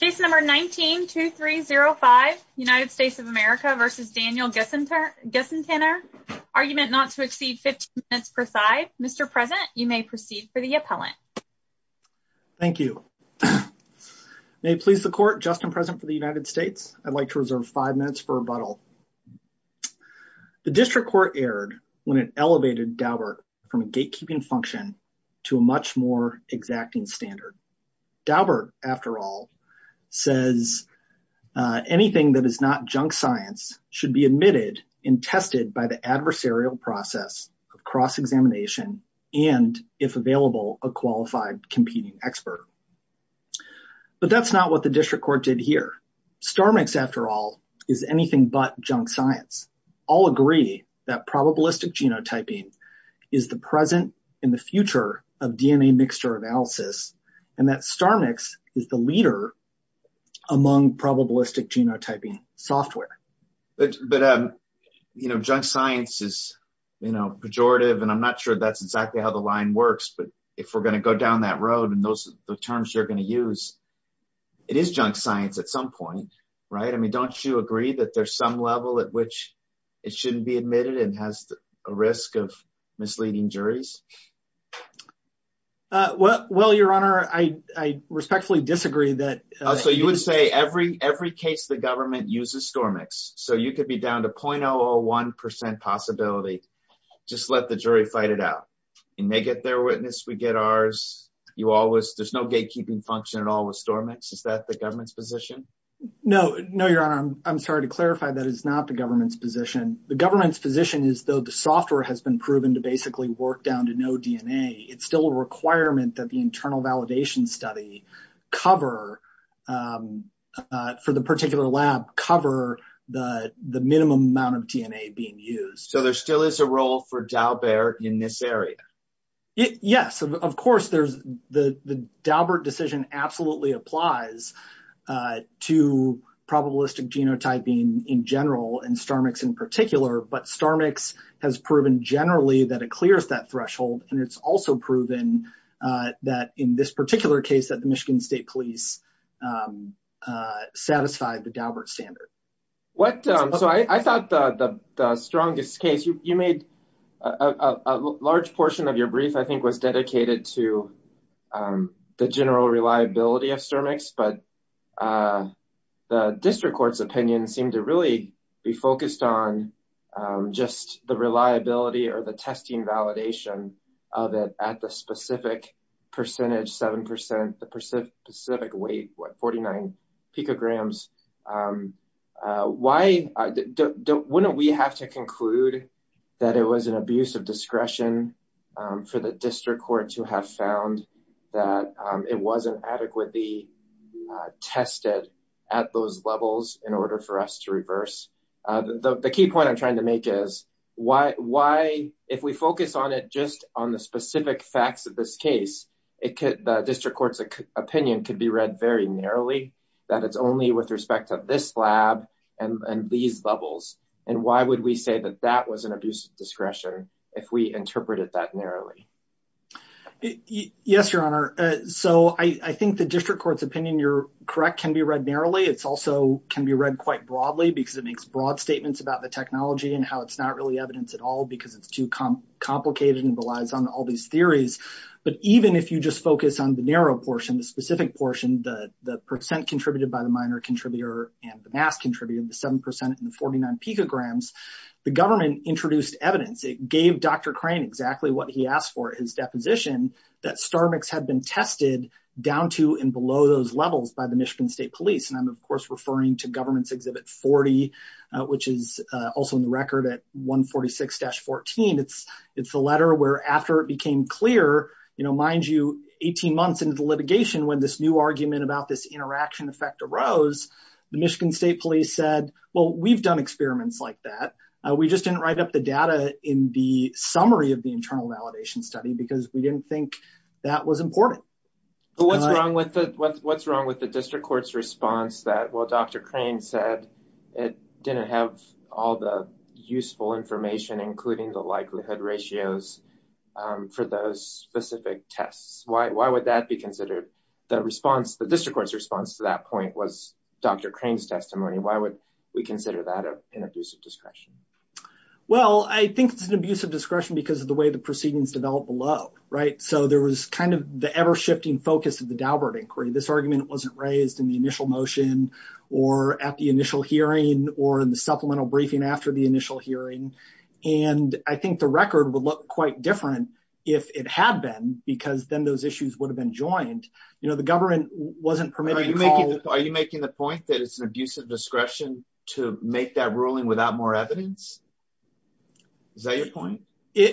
Case number 19-2305, United States of America v. Daniel Gissantaner, argument not to exceed 15 minutes per side. Mr. President, you may proceed for the appellant. Thank you. May it please the Court, Justin President for the United States, I'd like to reserve five minutes for rebuttal. The District Court erred when it elevated Daubert from a gatekeeping function to a much more exacting standard. Daubert, after all, says anything that is not junk science should be admitted and tested by the adversarial process of cross-examination and, if available, a qualified competing expert. But that's not what the District Court did here. StarMix, after all, is anything but junk science. All agree that probabilistic genotyping is the present and the future of DNA mixture analysis, and that StarMix is the leader among probabilistic genotyping software. Junk science is pejorative, and I'm not sure that's exactly how the line works, but if we're going to go down that road and those are the terms you're going to use, it is junk science at some point. Don't you agree that there's some level at which it shouldn't be admitted and has a risk of misleading juries? Well, Your Honor, I respectfully disagree that... So you would say every case the government uses StarMix, so you could be down to 0.001% possibility. Just let the jury fight it out. They get their witness, we get ours. There's no gatekeeping function at all with StarMix. Is that the government's position? No. No, Your Honor. I'm sorry to clarify that it's not the government's position. The government's position is though the software has been proven to basically work down to no DNA, it's still a requirement that the internal validation study cover for the particular lab cover the minimum amount of DNA being used. So there still is a role for Daubert in this area? Yes. Of course, the Daubert decision absolutely applies to probabilistic genotyping in general and StarMix in particular, but StarMix has proven generally that it clears that threshold and it's also proven that in this particular case that the Michigan State Police satisfied the Daubert I think was dedicated to the general reliability of StarMix, but the district court's opinion seemed to really be focused on just the reliability or the testing validation of it at the specific percentage, 7%, the specific weight, what, 49 picograms. Why... Wouldn't we have to conclude that it was an abuse of discretion for the district court to have found that it wasn't adequately tested at those levels in order for us to reverse? The key point I'm trying to make is if we focus on it just on the specific facts of this case, the district court's opinion could be read very narrowly that it's only with respect to this lab and these levels. And why would we say that that was an abuse of discretion if we interpreted that narrowly? Yes, your honor. So I think the district court's opinion, you're correct, can be read narrowly. It's also can be read quite broadly because it makes broad statements about the technology and how it's not really evidence at all because it's too complicated and relies on all these theories. But even if you just focus on the narrow portion, the specific portion, the percent contributed by government introduced evidence. It gave Dr. Crane exactly what he asked for, his deposition, that Starmix had been tested down to and below those levels by the Michigan State Police. And I'm of course referring to government's Exhibit 40, which is also in the record at 146-14. It's a letter where after it became clear, mind you, 18 months into the litigation when this new argument about this interaction effect arose, the Michigan State Police said, well, we've done experiments like that. We just didn't write up the data in the summary of the internal validation study because we didn't think that was important. But what's wrong with the district court's response that, well, Dr. Crane said it didn't have all the useful information, including the likelihood ratios for those specific tests? Why would that be considered the response, the district court's point was Dr. Crane's testimony? Why would we consider that an abuse of discretion? Well, I think it's an abuse of discretion because of the way the proceedings developed below, right? So there was kind of the ever-shifting focus of the Daubert inquiry. This argument wasn't raised in the initial motion or at the initial hearing or in the supplemental briefing after the initial hearing. And I think the record would look quite different if it had been because then those issues would have been joined. The government wasn't permitted to call- Are you making the point that it's an abuse of discretion to make that ruling without more evidence? Is that your point?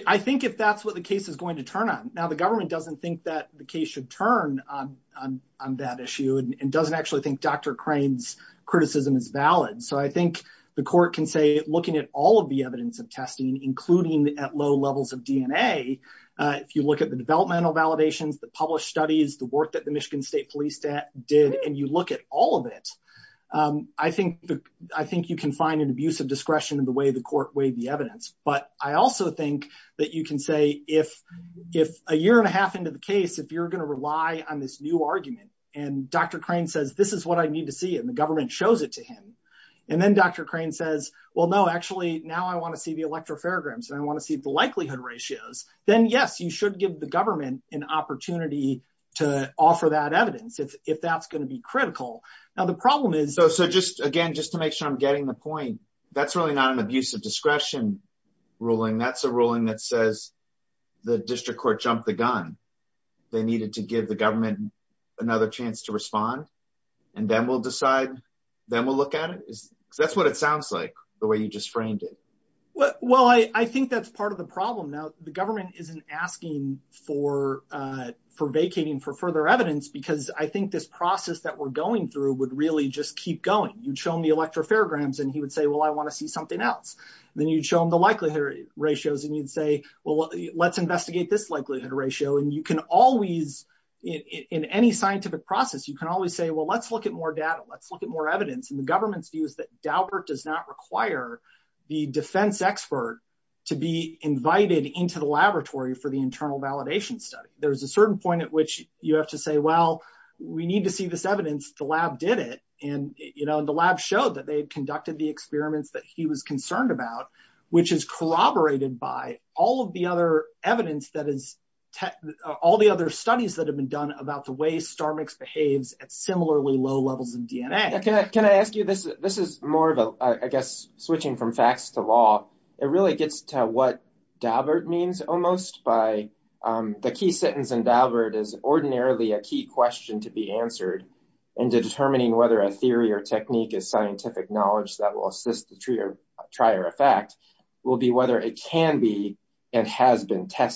I think if that's what the case is going to turn on. Now, the government doesn't think that the case should turn on that issue and doesn't actually think Dr. Crane's criticism is valid. So I think the court can say looking at all of the evidence of testing, including at low levels of DNA, if you look at the developmental validations, the published studies, the work that the Michigan State Police did, and you look at all of it, I think you can find an abuse of discretion in the way the court weighed the evidence. But I also think that you can say if a year and a half into the case, if you're going to rely on this new argument, and Dr. Crane says, this is what I need to see, and the government shows it to him, and then Dr. Crane says, well, no, actually, now I want to see the electropharograms and I want to see the likelihood ratios, then yes, you should give the government an opportunity to offer that evidence if that's going to be critical. Now, the problem is- So just again, just to make sure I'm getting the point, that's really not an abuse of discretion ruling. That's a ruling that says the district court jumped the gun. They needed to give the look at it. That's what it sounds like the way you just framed it. Well, I think that's part of the problem. Now, the government isn't asking for vacating for further evidence because I think this process that we're going through would really just keep going. You'd show him the electropharograms and he would say, well, I want to see something else. Then you'd show him the likelihood ratios and you'd say, well, let's investigate this likelihood ratio. And you can always, in any scientific process, you can always say, well, let's look at more data. Let's look at more evidence. And the government's view is that Daubert does not require the defense expert to be invited into the laboratory for the internal validation study. There's a certain point at which you have to say, well, we need to see this evidence. The lab did it. And the lab showed that they had conducted the experiments that he was concerned about, which is corroborated by all of the other evidence that is all the other studies that have been done about the way StarMix behaves at similarly low levels of DNA. Yeah. Can I ask you this? This is more of a, I guess, switching from facts to law. It really gets to what Daubert means almost by the key sentence. And Daubert is ordinarily a key question to be answered into determining whether a theory or technique is scientific knowledge that will assist the tree or try or effect will be whether it can be and has been both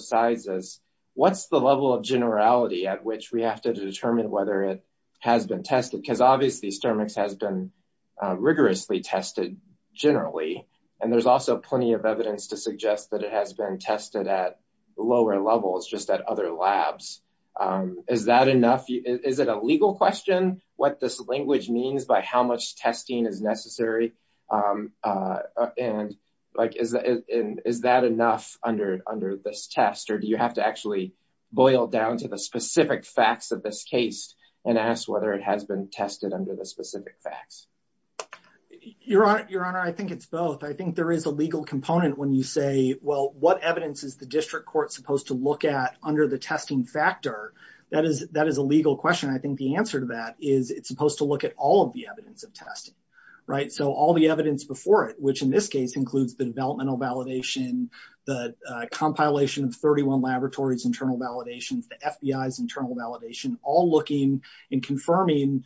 sides. What's the level of generality at which we have to determine whether it has been tested? Because obviously StarMix has been rigorously tested generally. And there's also plenty of evidence to suggest that it has been tested at lower levels, just at other labs. Is that enough? Is it a legal question what this language means by how much testing is necessary? And is that enough under this test? Or do you have to actually boil down to the specific facts of this case and ask whether it has been tested under the specific facts? Your Honor, I think it's both. I think there is a legal component when you say, well, what evidence is the district court supposed to look at under the testing factor? That is a legal question. I think the answer to that is it's supposed to look at all of the evidence before it, which in this case includes the developmental validation, the compilation of 31 laboratories' internal validations, the FBI's internal validation, all looking and confirming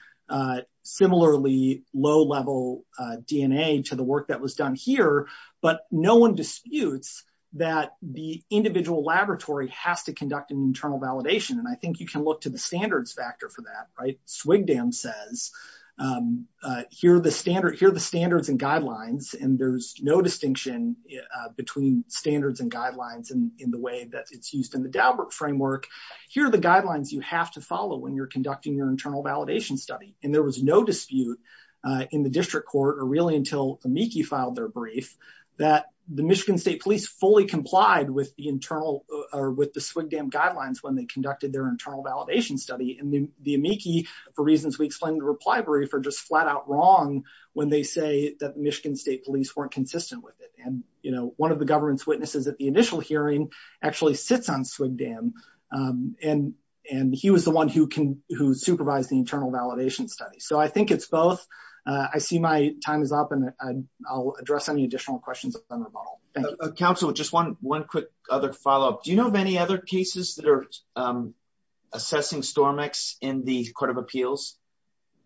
similarly low-level DNA to the work that was done here. But no one disputes that the individual laboratory has to conduct an internal validation. And I think you and there's no distinction between standards and guidelines in the way that it's used in the Daubert framework. Here are the guidelines you have to follow when you're conducting your internal validation study. And there was no dispute in the district court or really until Amici filed their brief that the Michigan State Police fully complied with the SWGDAM guidelines when they conducted their internal validation study. And the Amici, for reasons we explained in the reply brief, are just flat-out wrong when they say that Michigan State Police weren't consistent with it. And one of the government's witnesses at the initial hearing actually sits on SWGDAM, and he was the one who supervised the internal validation study. So I think it's both. I see my time is up, and I'll address any additional questions. Counsel, just one quick other follow-up. Do you know of any other cases that are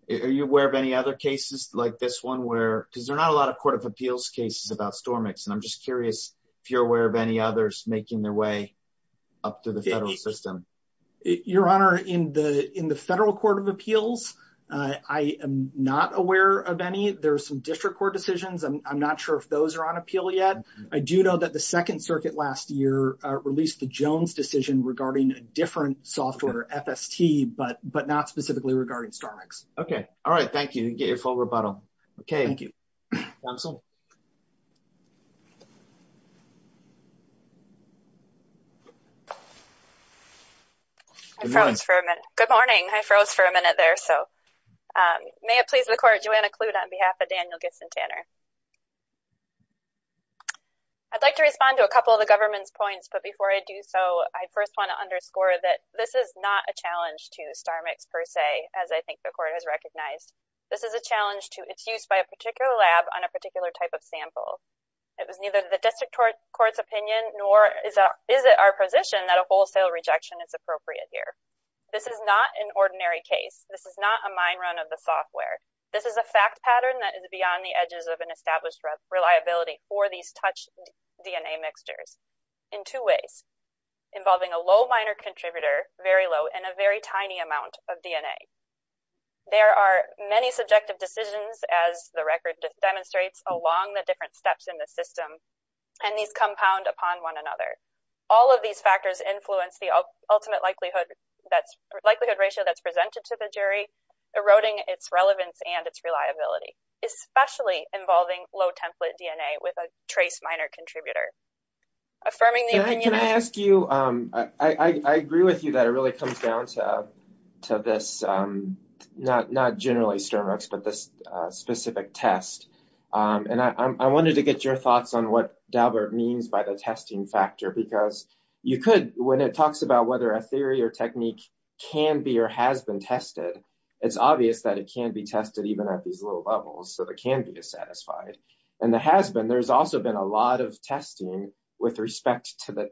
are you aware of any other cases like this one where, because there are not a lot of court of appeals cases about stormics, and I'm just curious if you're aware of any others making their way up to the federal system. Your honor, in the in the federal court of appeals, I am not aware of any. There are some district court decisions. I'm not sure if those are on appeal yet. I do know that the second circuit last year released the Jones decision regarding a different software, FST, but not specifically regarding stormics. Okay. All right. Thank you, and get your full rebuttal. Okay. Thank you. I froze for a minute. Good morning. I froze for a minute there, so may it please the court, Joanna Clute on behalf of Daniel Gibson Tanner. I'd like to respond to a couple of the government's points, but before I do so, I first want to underscore that this is not a challenge to stormics per se, as I think the court has recognized. This is a challenge to its use by a particular lab on a particular type of sample. It was neither the district court's opinion nor is it our position that a wholesale rejection is appropriate here. This is not an ordinary case. This is not a mine run of the software. This is a fact pattern that is beyond the edges of an established reliability for these DNA mixtures in two ways, involving a low minor contributor, very low, and a very tiny amount of DNA. There are many subjective decisions, as the record demonstrates, along the different steps in the system, and these compound upon one another. All of these factors influence the ultimate likelihood ratio that's presented to the jury, eroding its relevance and its reliability, especially involving low template DNA with a trace minor contributor. I agree with you that it really comes down to this, not generally stormics, but this specific test. I wanted to get your thoughts on what Daubert means by the testing factor, because when it talks about whether a theory or technique can be or has been tested, it's obvious that it can be tested even at these low levels, so it can be dissatisfied. There's also been a lot of testing with respect to the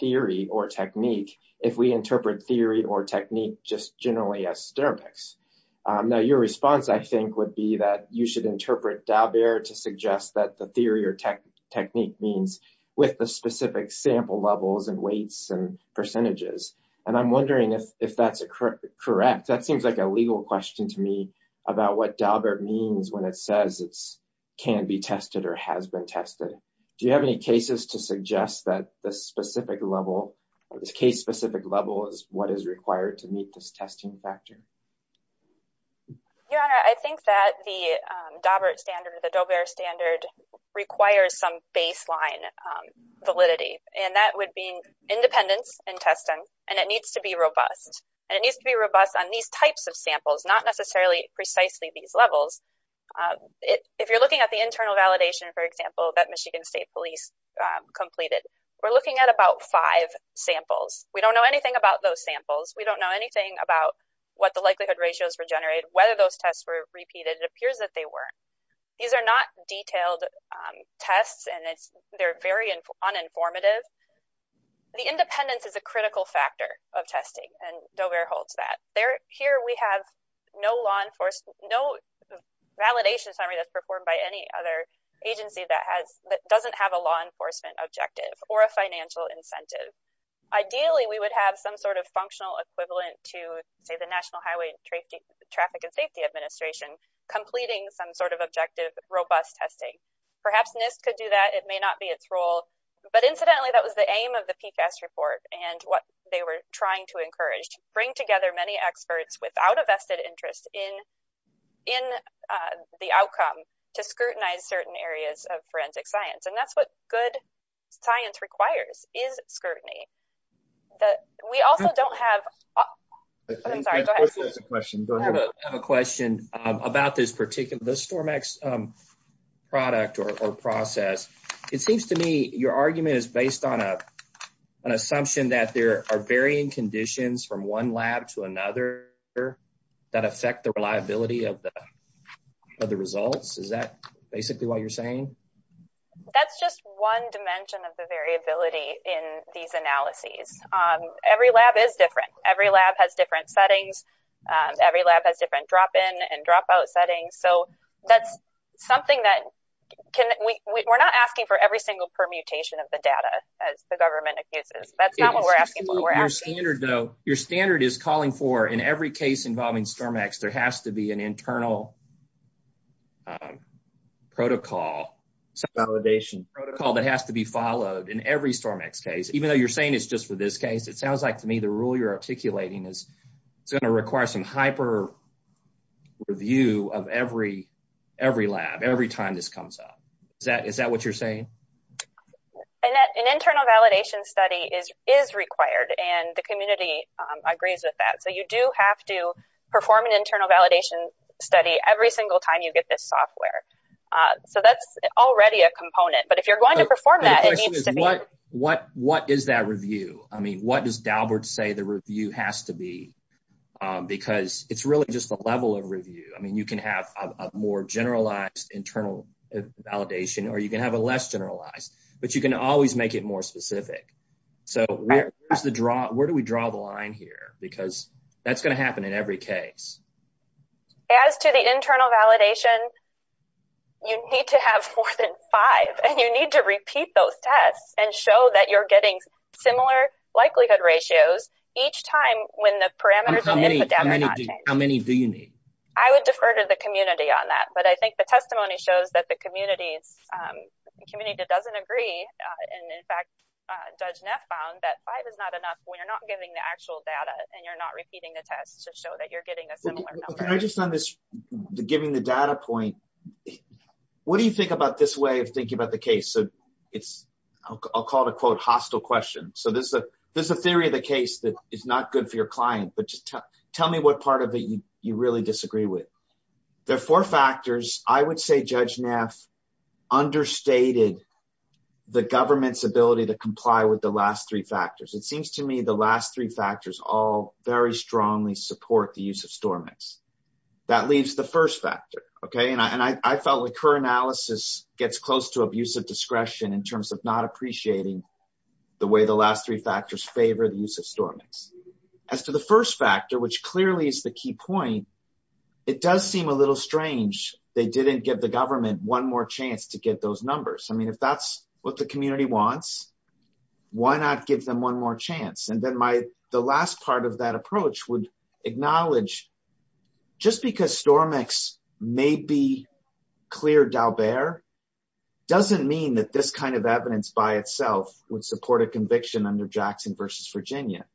theory or technique, if we interpret theory or technique just generally as stormics. Your response, I think, would be that you should interpret Daubert to suggest that the theory or technique means with the specific sample levels and weights and percentages. I'm wondering if that's correct. That seems like a legal question to me, about what Daubert means when it says it can be tested or has been tested. Do you have any cases to suggest that this case-specific level is what is required to meet this testing factor? Your Honor, I think that the Daubert standard requires some baseline validity, and that would be independence in testing, and it needs to be robust. It needs to be robust on these types of samples, not necessarily precisely these levels. If you're looking at the internal validation, for example, that Michigan State Police completed, we're looking at about five samples. We don't know anything about those samples. We don't know anything about what the likelihood ratios were generated, whether those tests were repeated. It appears that they were. These are not detailed tests, and they're very uninformative. The independence is a critical factor of testing, and Daubert holds that. Here, we have no validation summary that's performed by any other agency that doesn't have a law enforcement objective or a financial incentive. Ideally, we would have some sort of functional equivalent to, say, the National Highway Traffic and Safety Administration completing some sort of objective, robust testing. Perhaps NIST could do that. It may not be its role, but incidentally, that was the aim of the PCAST report and what they were trying to encourage, bring together many experts without a vested interest in the outcome to scrutinize certain areas of forensic science, and that's what good science requires, is scrutiny. The, we also don't have, I'm sorry, go ahead. Of course, there's a question. Go ahead. I have a question about this particular, the STORM-X product or process. It seems to me your argument is based on an assumption that there are varying conditions from one lab to another that affect the reliability of the results. Is that basically what you're saying? That's just one dimension of the variability in these analyses. Every lab is different. Every lab has different settings. Every lab has different drop-in and drop-out settings. So, that's something that can, we're not asking for every single permutation of the data, as the government accuses. That's not what we're asking. Your standard is calling for, in every case involving STORM-X, there has to be an internal validation protocol that has to be followed in every STORM-X case. Even though you're saying it's just for this case, it sounds like to me the rule you're articulating is it's going to require some hyper-review of every lab, every time this comes up. Is that what you're saying? An internal validation study is required, and the community agrees with that. So, you do have to perform an internal validation study every single time you get this software. So, that's already a component, but if you're going to perform that, it needs to be… The question is, what is that review? I mean, what does Dalbert say the review has to be? Because it's really just the level of review. I mean, you can have a more generalized internal validation, or you can have a less generalized, but you can always make it more specific. So, where do we draw the line here? Because that's going to happen in every case. As to the internal validation, you need to have more than five, and you need to repeat those tests and show that you're getting similar likelihood ratios each time when the parameters of the epidemic… How many do you need? I would defer to the community on that, but I think the testimony shows that the community the community that doesn't agree, and in fact, Judge Neff found that five is not enough when you're not giving the actual data and you're not repeating the tests to show that you're getting a similar number. Can I just on this, giving the data point, what do you think about this way of thinking about the case? So, it's… I'll call it a, quote, hostile question. So, this is a theory of the case that is not good for your client, but just tell me what part of it you really disagree with. There are four factors. I would say Judge Neff understated the government's ability to comply with the last three factors. It seems to me the last three factors all very strongly support the use of StormX. That leaves the first factor, okay? And I felt like her analysis gets close to abusive discretion in terms of not appreciating the way the last three factors favor the use of StormX. As to the first factor, which clearly is the key point, it does seem a little strange they didn't give the government one more chance to get those numbers. I mean, if that's what the community wants, why not give them one more chance? And then my… the last part of that approach would acknowledge just because StormX may be clear d'Albert doesn't mean that this kind of evidence by itself would support a conviction under Jackson versus Virginia.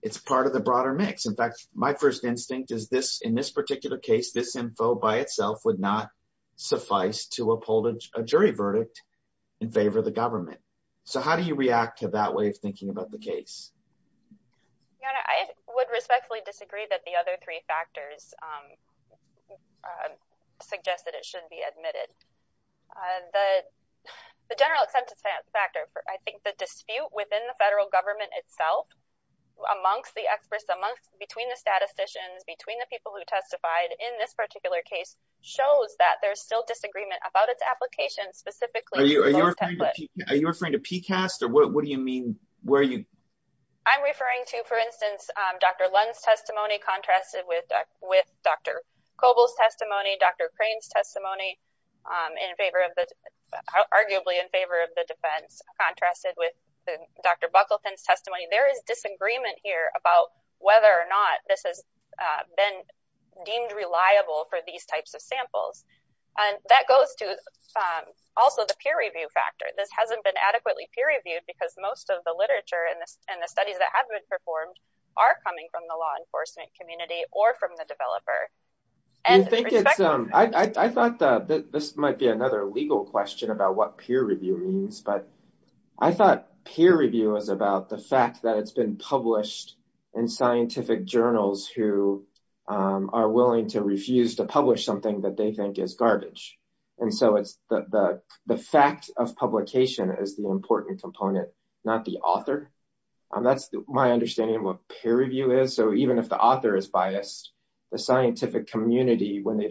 It's part of the broader mix. In fact, my first instinct is this, in this particular case, this info by itself would not suffice to uphold a jury verdict in favor of the government. So, how do you react to that way of thinking about the case? Yeah, I would respectfully disagree that the other three factors suggest that it shouldn't be admitted. The general acceptance factor, I think the dispute within the federal government itself amongst the experts, amongst… between the statisticians, between the people who testified in this particular case shows that there's still disagreement about its application specifically. Are you referring to PCAST or what do you mean where you… I'm referring to, for instance, Dr. Lund's testimony contrasted with Dr. Coble's testimony, Dr. Crane's testimony in favor of the… arguably in favor of the defense contrasted with Dr. Buckleton's testimony. There is disagreement here about whether or not this has been deemed reliable for these types of samples. And that goes to also the peer review factor. This hasn't been adequately peer reviewed because most of the literature and the studies that have been performed are coming from the law enforcement community or from the developer. And… You think it's… I thought that this might be another legal question about what peer review means, but I thought peer review is about the fact that it's been published in scientific journals who are willing to refuse to publish something that they think is garbage. And so, it's the fact of publication is the important component, not the author. That's my understanding of what peer review is. So, even if the author is biased, the scientific community, when they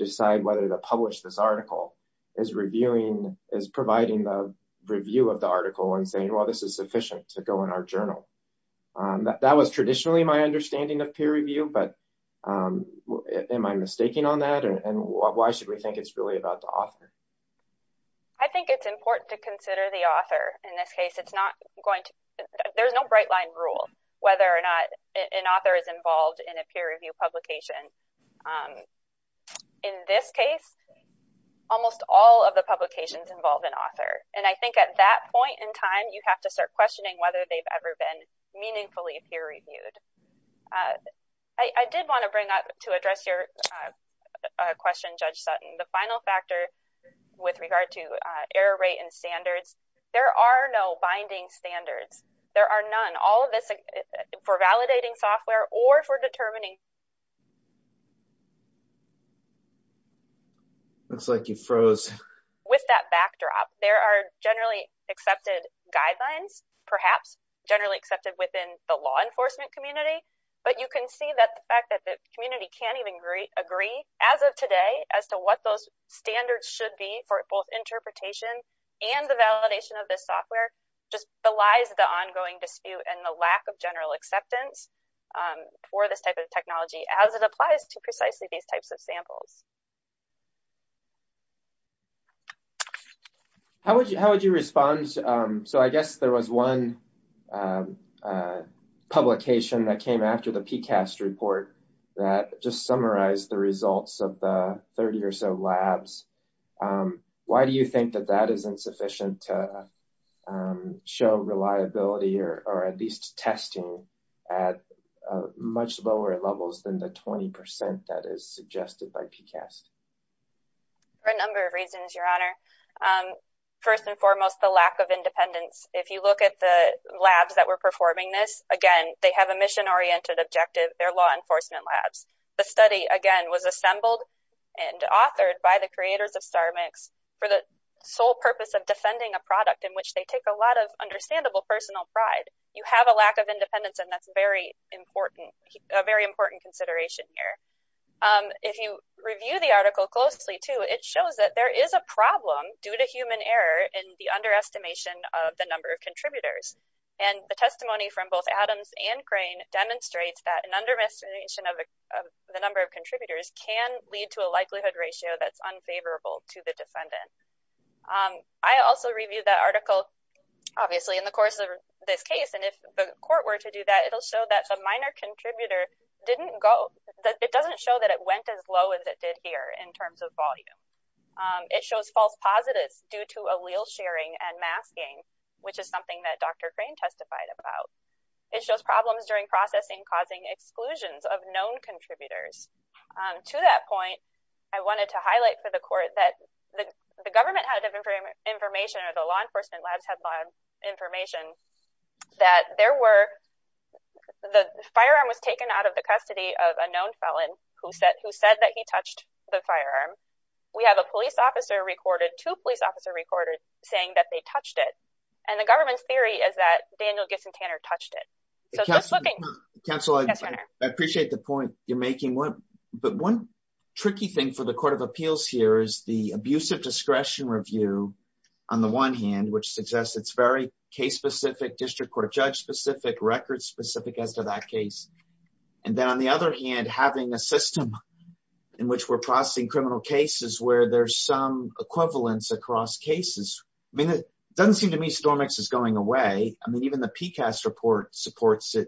review of the article and say, well, this is sufficient to go in our journal. That was traditionally my understanding of peer review, but am I mistaking on that? And why should we think it's really about the author? I think it's important to consider the author. In this case, it's not going to… There's no bright line rule whether or not an author is involved in a peer review publication. In this case, almost all of the publications involve an author. And I think at that point in time, you have to start questioning whether they've ever been meaningfully peer reviewed. I did want to bring up to address your question, Judge Sutton, the final factor with regard to error rate and standards. There are no binding standards. There are none. All of this for validating software or for determining… Looks like you froze. With that backdrop, there are generally accepted guidelines, perhaps generally accepted within the law enforcement community, but you can see that the fact that the community can't even agree as of today as to what those standards should be for both interpretation and the validation of this software just belies the ongoing dispute and the lack of general acceptance for this type of technology as it applies to precisely these types of samples. How would you respond? So, I guess there was one publication that came after the PCAST report that just summarized the results of the 30 or so labs. Why do you think that that is insufficient to show reliability or at least testing at much lower levels than the 20 percent that is suggested by PCAST? For a number of reasons, Your Honor. First and foremost, the lack of independence. If you look at the labs that were performing this, again, they have a mission-oriented objective. They're law enforcement labs. The study, again, was assembled and authored by the creators of StarMix for the sole purpose of defending a product in which they take a lot of understandable personal pride. You have a lack of independence, and that's very important, a very important consideration here. If you review the article closely, too, it shows that there is a problem due to human error in the underestimation of the number of contributors, and the testimony from both Adams and Crane demonstrates that an underestimation of the number of contributors can lead to a likelihood ratio that's unfavorable to the defendant. I also reviewed that article, obviously, in the course of this case, and if the court were to do that, it'll show that the minor contributor didn't go, it doesn't show that it went as low as it did here in terms of volume. It shows false positives due to allele sharing and masking, which is something that Dr. Crane testified about. It shows problems during processing causing exclusions of known contributors. To that point, I wanted to highlight for the court that the government had different information, or the law enforcement labs had information that there were, the firearm was taken out of the custody of a known felon who said that he touched the firearm. We have a police officer recorded, two police officers recorded saying that they touched it, and the government's theory is that Daniel Giffson Tanner touched it. Counsel, I appreciate the point you're making, but one tricky thing for the Court of Appeals here is the Abusive Discretion Review, on the one hand, which suggests it's very case-specific, district court judge-specific, record-specific as to that case, and then on the other hand, having a system in which we're processing criminal cases where there's some equivalence across cases. I mean, it doesn't seem to me StormX is going away. I mean, even the PCAST report supports it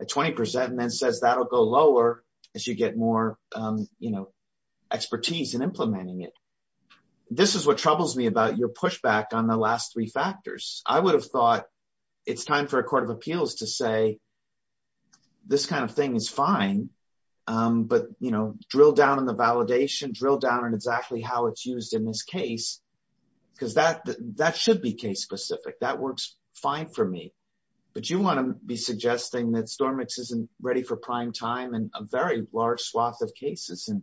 at 20% and then says that'll go lower as you get more expertise in implementing it. This is what troubles me about your pushback on the last three factors. I would have thought it's time for a Court of Appeals to say this kind of thing is fine, but drill down on the validation, drill down on exactly how it's used in this case, because that should be case-specific. That works fine for me, but you want to be suggesting that StormX isn't ready for prime time in a very large swath of cases, and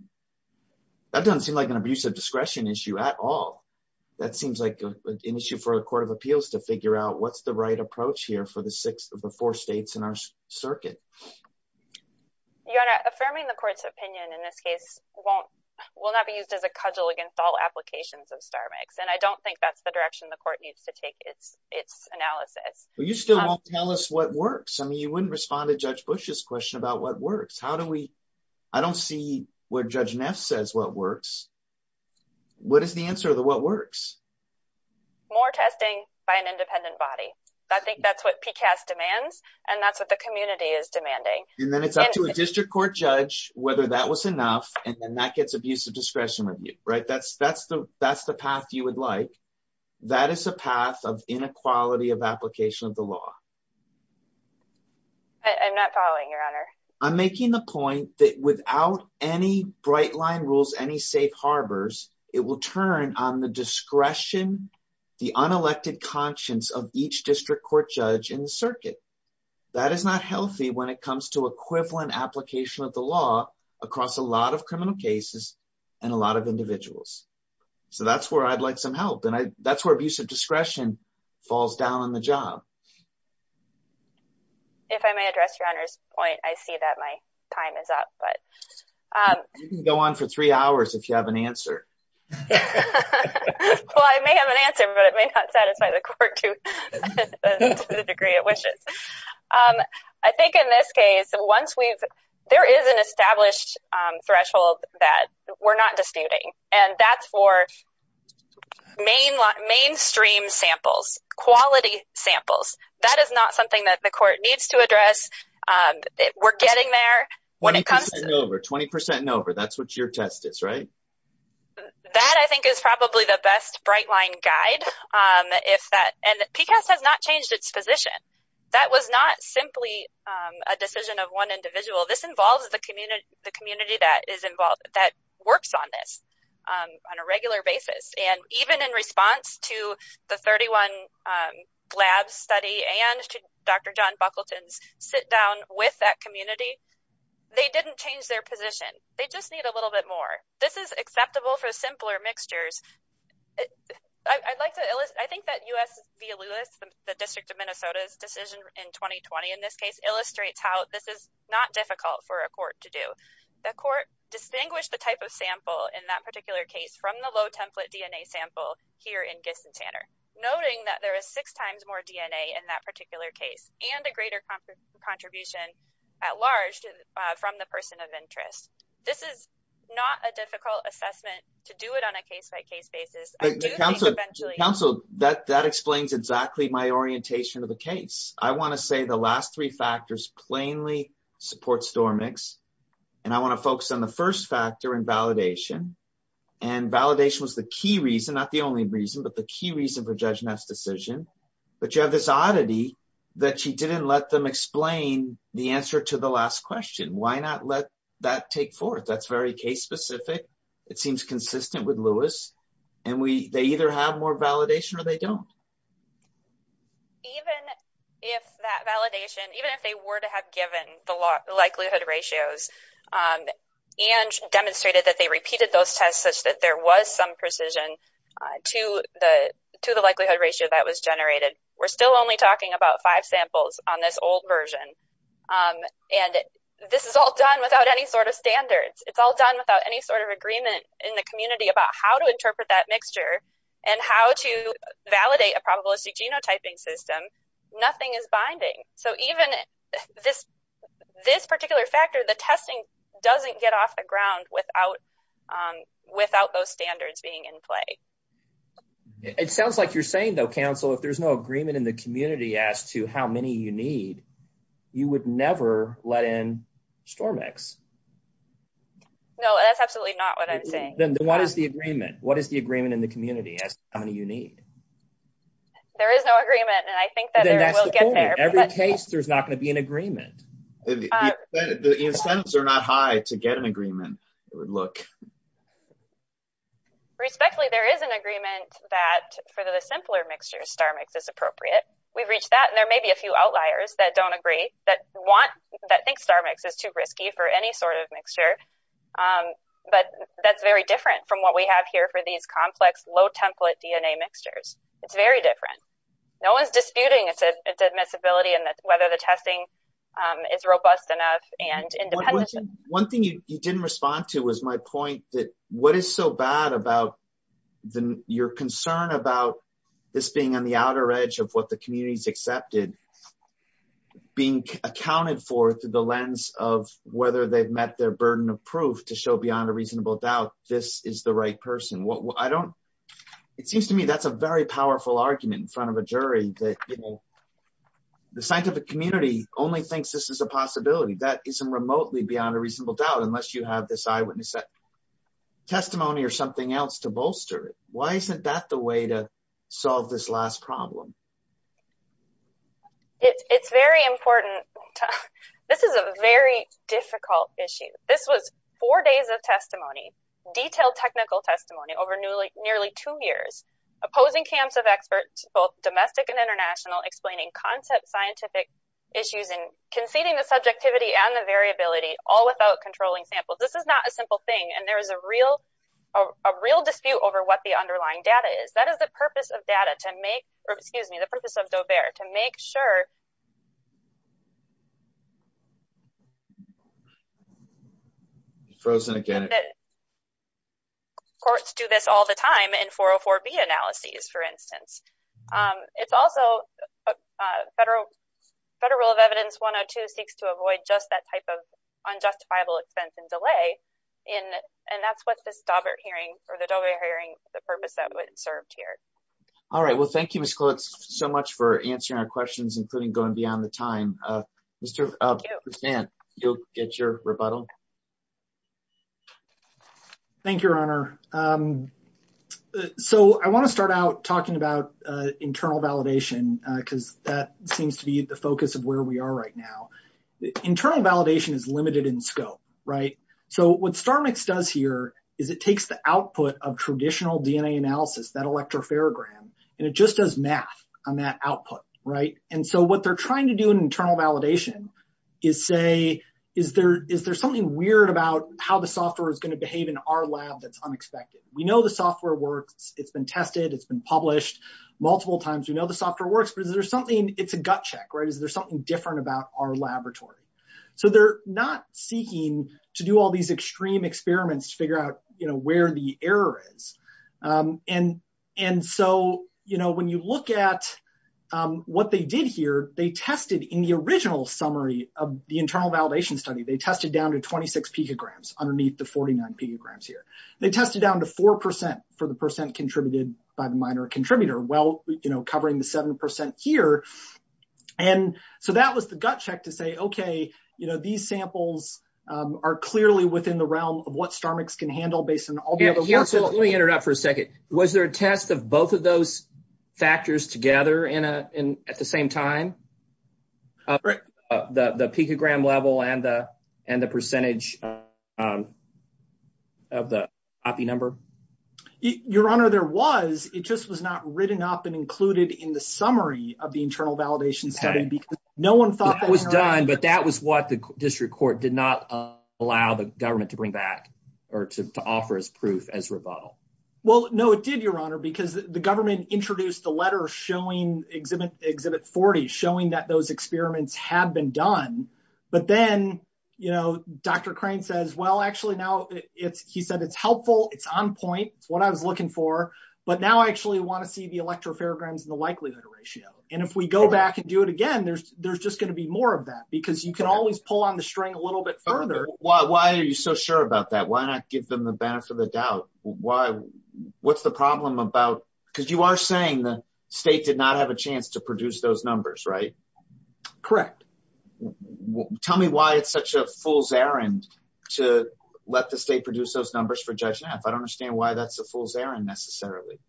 that doesn't seem like an abusive discretion issue at all. That seems like an issue for a Court of Appeals to figure out what's the right approach here for the six of the four states in our circuit. Your Honor, affirming the Court's opinion in this case won't, will not be used as a cudgel against all applications of StormX, and I don't think that's the direction the Court needs to take its analysis. Well, you still won't tell us what works. I mean, you wouldn't respond to Judge Bush's question about what works. How do we, I don't see where Judge Neff says what works. What is the answer of the what works? More testing by an independent body. I think that's what PCAST demands, and that's what the community is demanding. And then it's up to a district court judge whether that was enough, and then that gets abusive discretion review, right? That's the path you would like. That is a path of inequality of law. I'm not following, Your Honor. I'm making the point that without any bright line rules, any safe harbors, it will turn on the discretion, the unelected conscience of each district court judge in the circuit. That is not healthy when it comes to equivalent application of the law across a lot of criminal cases and a lot of individuals. So that's where I'd like some help. And that's where discretion falls down on the job. If I may address Your Honor's point, I see that my time is up. You can go on for three hours if you have an answer. Well, I may have an answer, but it may not satisfy the court to the degree it wishes. I think in this case, once we've, there is an established threshold that we're not disputing, and that's for mainstream samples, quality samples. That is not something that the court needs to address. We're getting there. Twenty percent and over. That's what your test is, right? That I think is probably the best bright line guide. PCAST has not changed its position. That was not simply a decision of one individual. This involves the community that is involved, that works on this on a regular basis. And even in response to the 31 GLABS study and to Dr. John Buckleton's sit down with that community, they didn't change their position. They just need a little bit more. This is acceptable for simpler mixtures. I'd like to, I think that U.S. v. Lewis, the District of Minnesota's decision in 2020 in this case illustrates how this is not difficult for a court to do. The court distinguished the type of sample in that particular case from the low template DNA sample here in Giss and Tanner, noting that there is six times more DNA in that particular case and a greater contribution at large from the person of interest. This is not a difficult assessment to do it on a case by case basis. I do think eventually. Counsel, that explains exactly my orientation of the case. I want to say the last three factors plainly support Stormix. And I want to focus on the first factor in validation. And validation was the key reason, not the only reason, but the key reason for Judge Neff's decision. But you have this oddity that she didn't let them explain the answer to the last question. Why not let that take forth? That's very case specific. It seems consistent with Lewis. And they either have more validation or they don't. Even if that validation, even if they were to have given the likelihood ratios and demonstrated that they repeated those tests such that there was some precision to the likelihood ratio that was generated, we're still only talking about five samples on this old version. And this is all done without any sort of standards. It's all done any sort of agreement in the community about how to interpret that mixture and how to validate a probabilistic genotyping system. Nothing is binding. So even this particular factor, the testing doesn't get off the ground without those standards being in play. It sounds like you're saying though, counsel, if there's no agreement in the community as to how many you need, you would never let in Stormix. No, that's absolutely not what I'm saying. Then what is the agreement? What is the agreement in the community as to how many you need? There is no agreement. And I think that every case there's not going to be an agreement. The incentives are not high to get an agreement. It would look. Respectfully, there is an agreement that for the simpler mixtures, Stormix is appropriate. We've reached that. And there may be a few outliers that don't agree, that think Stormix is too risky for any sort of mixture. But that's very different from what we have here for these complex low template DNA mixtures. It's very different. No one's disputing its admissibility and whether the testing is robust enough and independent. One thing you didn't respond to was my point that what is so bad about your concern about this being on the outer edge of the community's accepted, being accounted for through the lens of whether they've met their burden of proof to show beyond a reasonable doubt this is the right person. It seems to me that's a very powerful argument in front of a jury that the scientific community only thinks this is a possibility. That isn't remotely beyond a reasonable doubt unless you have this eyewitness testimony or something else to bolster it. Why isn't that the way to solve this last problem? It's very important. This is a very difficult issue. This was four days of testimony, detailed technical testimony over nearly two years, opposing camps of experts, both domestic and international, explaining concept scientific issues and conceding the subjectivity and the variability all without controlling samples. This is not a simple thing. And there is a real dispute over what the underlying data is. That is the purpose of Daubert to make sure courts do this all the time in 404B analyses, for instance. It's also a federal rule of evidence 102 seeks to avoid just that type of unjustifiable expense and delay. And that's what this Daubert hearing, the purpose that was served here. All right. Well, thank you so much for answering our questions, including going beyond the time. You'll get your rebuttal. Thank you, Your Honor. So I want to start out talking about internal validation because that seems to be the focus of where we are right now. Internal validation is limited in scope, right? So what StarMix does here is it takes the output of traditional DNA analysis, that electrophorogram, and it just does math on that output, right? And so what they're trying to do in internal validation is say, is there something weird about how the software is going to behave in our lab that's unexpected? We know the software works. It's been tested. It's been published multiple times. We know the software works, but is there something, it's a gut check, is there something different about our laboratory? So they're not seeking to do all these extreme experiments to figure out where the error is. And so when you look at what they did here, they tested in the original summary of the internal validation study, they tested down to 26 picograms underneath the 49 picograms here. They tested down to 4% for the percent contributed by the minor contributor. Well, covering the 7% here. And so that was the gut check to say, okay, you know, these samples are clearly within the realm of what StarMix can handle based on all the other work. Let me interrupt for a second. Was there a test of both of those factors together at the same time? The picogram level and the percentage of the OPI number? Your Honor, there was, it just was not written up and included in the summary of the internal validation study because no one thought that was done. But that was what the district court did not allow the government to bring back or to offer as proof as rebuttal. Well, no, it did, Your Honor, because the government introduced the letter showing exhibit 40, showing that those experiments have been done. But then, you know, Dr. Crane says, well, actually now it's, he said it's helpful. It's on point. It's what I was looking for. But now I actually want to see the electropharograms and the likelihood ratio. And if we go back and do it again, there's just going to be more of that because you can always pull on the string a little bit further. Why are you so sure about that? Why not give them the benefit of the doubt? What's the problem about, because you are saying the state did not have a chance to produce those numbers, right? Correct. Tell me why it's such a fool's errand to let the state produce those numbers for Judge Neff. I don't understand why that's a fool's errand necessarily.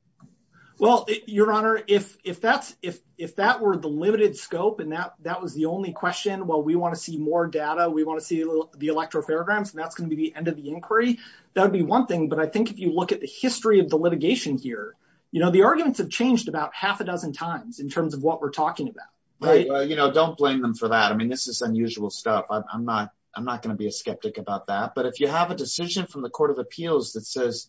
Well, Your Honor, if that's, if that were the limited scope and that was the only question, well, we want to see more data. We want to see the electropharograms and that's going to be the end of the inquiry. That would be one thing. But I think if you look at the history of the litigation here, you know, the arguments have changed about half a dozen times in terms of what we're talking about. You know, don't blame them for that. I mean, this is unusual stuff. I'm not, I'm not going to be a skeptic about that. But if you have a decision from the Court of Appeals that says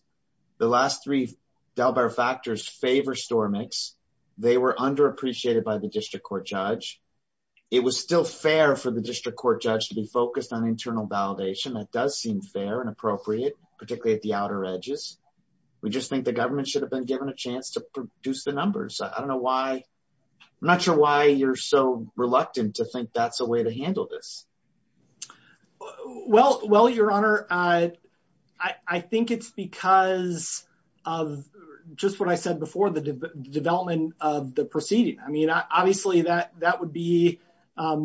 the last three Dalbert factors favor Stormix, they were underappreciated by the District Court Judge. It was still fair for the District Court Judge to be focused on internal validation. That does seem fair and appropriate, particularly at the outer edges. We just think the government should have been given a chance to produce the numbers. I don't know why, I'm not sure why you're so reluctant to think that's a way to handle this. Well, Your Honor, I think it's because of just what I said before, the development of the proceeding. I mean, obviously that would be a...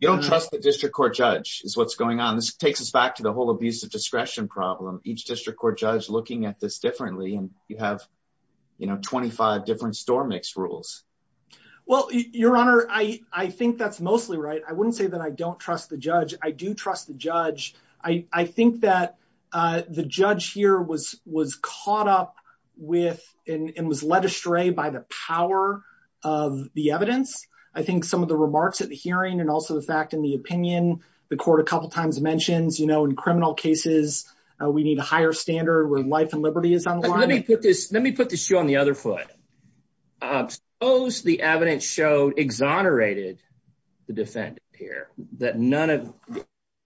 You don't trust the District Court Judge is what's going on. This takes us back to the whole abuse of discretion problem. Each District Court Judge has 25 different Stormix rules. Well, Your Honor, I think that's mostly right. I wouldn't say that I don't trust the judge. I do trust the judge. I think that the judge here was caught up with and was led astray by the power of the evidence. I think some of the remarks at the hearing and also the fact in the opinion, the court a couple of times mentions, you know, in criminal cases, we need a higher standard where life and liberty is on the line. Let me put this, let me put this shoe on the other foot. Suppose the evidence showed, exonerated the defendant here, that none of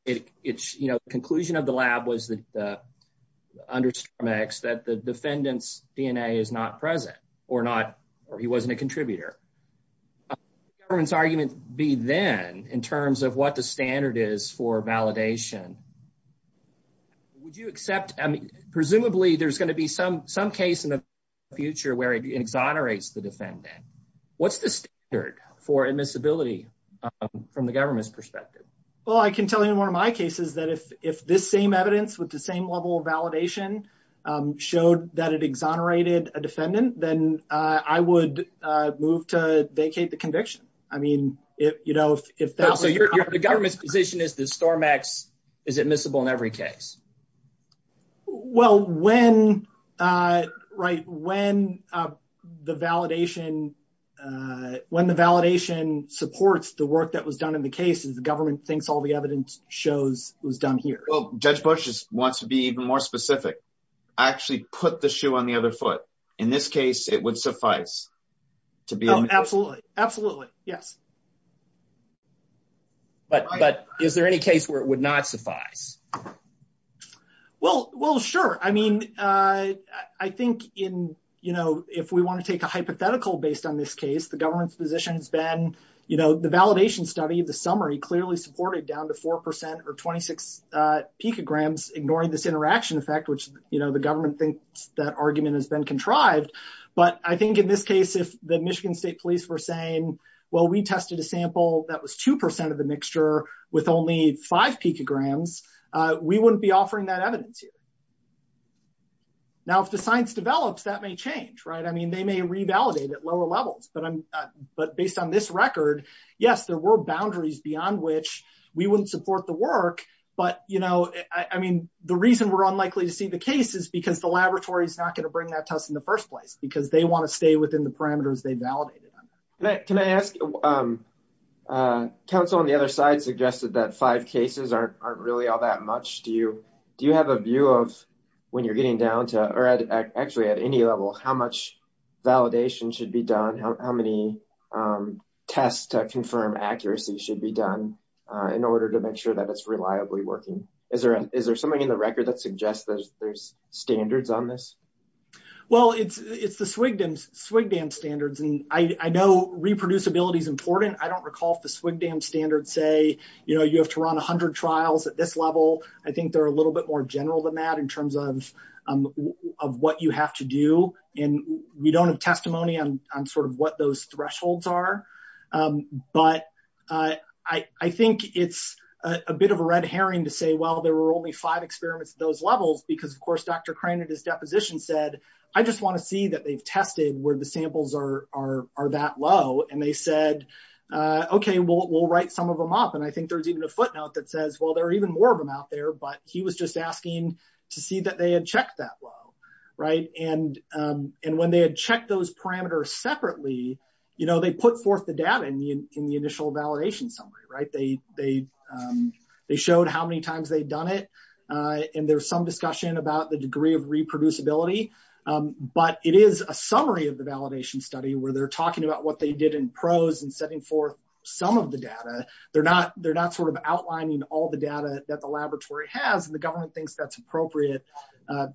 it, you know, the conclusion of the lab was that, under Stormix, that the defendant's DNA is not present or not, or he wasn't a contributor. What would the government's argument be then in terms of the standard for validation? Would you accept, I mean, presumably, there's going to be some case in the future where it exonerates the defendant. What's the standard for admissibility from the government's perspective? Well, I can tell you in one of my cases that if this same evidence with the same level of validation showed that it exonerated a defendant, then I would move to the government's position is that Stormix is admissible in every case. Well, when, right, when the validation, when the validation supports the work that was done in the case, the government thinks all the evidence shows was done here. Well, Judge Bush wants to be even more specific. Actually put the shoe on the other foot. In this case, it would suffice to be absolutely, absolutely. Yes. But is there any case where it would not suffice? Well, well, sure. I mean, I think in, you know, if we want to take a hypothetical based on this case, the government's position has been, you know, the validation study, the summary clearly supported down to 4% or 26 picograms, ignoring this interaction effect, which, you know, the government thinks that argument has been contrived. But I think in this case, if the Michigan State Police were saying, well, we tested a sample that was 2% of the mixture with only 5 picograms, we wouldn't be offering that evidence here. Now, if the science develops, that may change, right? I mean, they may revalidate at lower levels, but I'm, but based on this record, yes, there were boundaries beyond which we wouldn't support the work. But, you know, I mean, the reason we're unlikely to see the case is because the laboratory is not going to bring that test in the first place because they want to stay within the parameters they validated on. Can I ask, council on the other side suggested that five cases aren't really all that much. Do you, do you have a view of when you're getting down to, or actually at any level, how much validation should be done? How many tests to confirm accuracy should be done in order to make sure that it's reliably working? Is there, is there something in the record that suggests that there's standards on this? Well, it's, it's the SWGDAM, SWGDAM standards. And I know reproducibility is important. I don't recall if the SWGDAM standards say, you know, you have to run a hundred trials at this level. I think they're a little bit more general than that in terms of, of what you have to do. And we don't have testimony on, on sort of what those thresholds are. But I, I think it's a bit of a red herring to say, well, there were only five experiments at those levels because of course, Dr. Crane at his deposition said, I just want to see that they've tested where the samples are, are, are that low. And they said, okay, we'll, we'll write some of them up. And I think there's even a footnote that says, well, there are even more of them out there, but he was just asking to see that they had checked that low. Right. And, and when they had checked those parameters separately, you know, they put forth the data in the, in the initial validation summary, right. They, they, they showed how many times they'd done it. And there's some discussion about the degree of reproducibility. But it is a summary of the validation study where they're talking about what they did in prose and setting forth some of the data. They're not, they're not sort of appropriate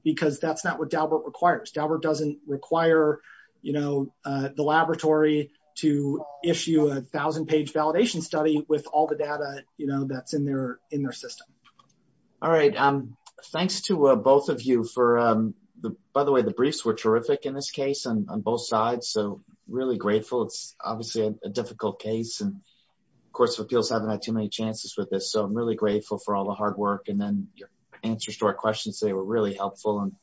because that's not what Daubert requires. Daubert doesn't require, you know, the laboratory to issue a thousand page validation study with all the data, you know, that's in their, in their system. All right. Thanks to both of you for the, by the way, the briefs were terrific in this case on both sides. So really grateful. It's obviously a difficult case and of course, appeals haven't had too many chances with this. So I'm really grateful for all the questions. They were really helpful. And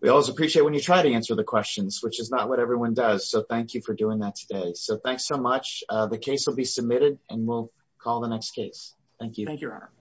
we always appreciate when you try to answer the questions, which is not what everyone does. So thank you for doing that today. So thanks so much. The case will be submitted and we'll call the next case. Thank you. Thank you.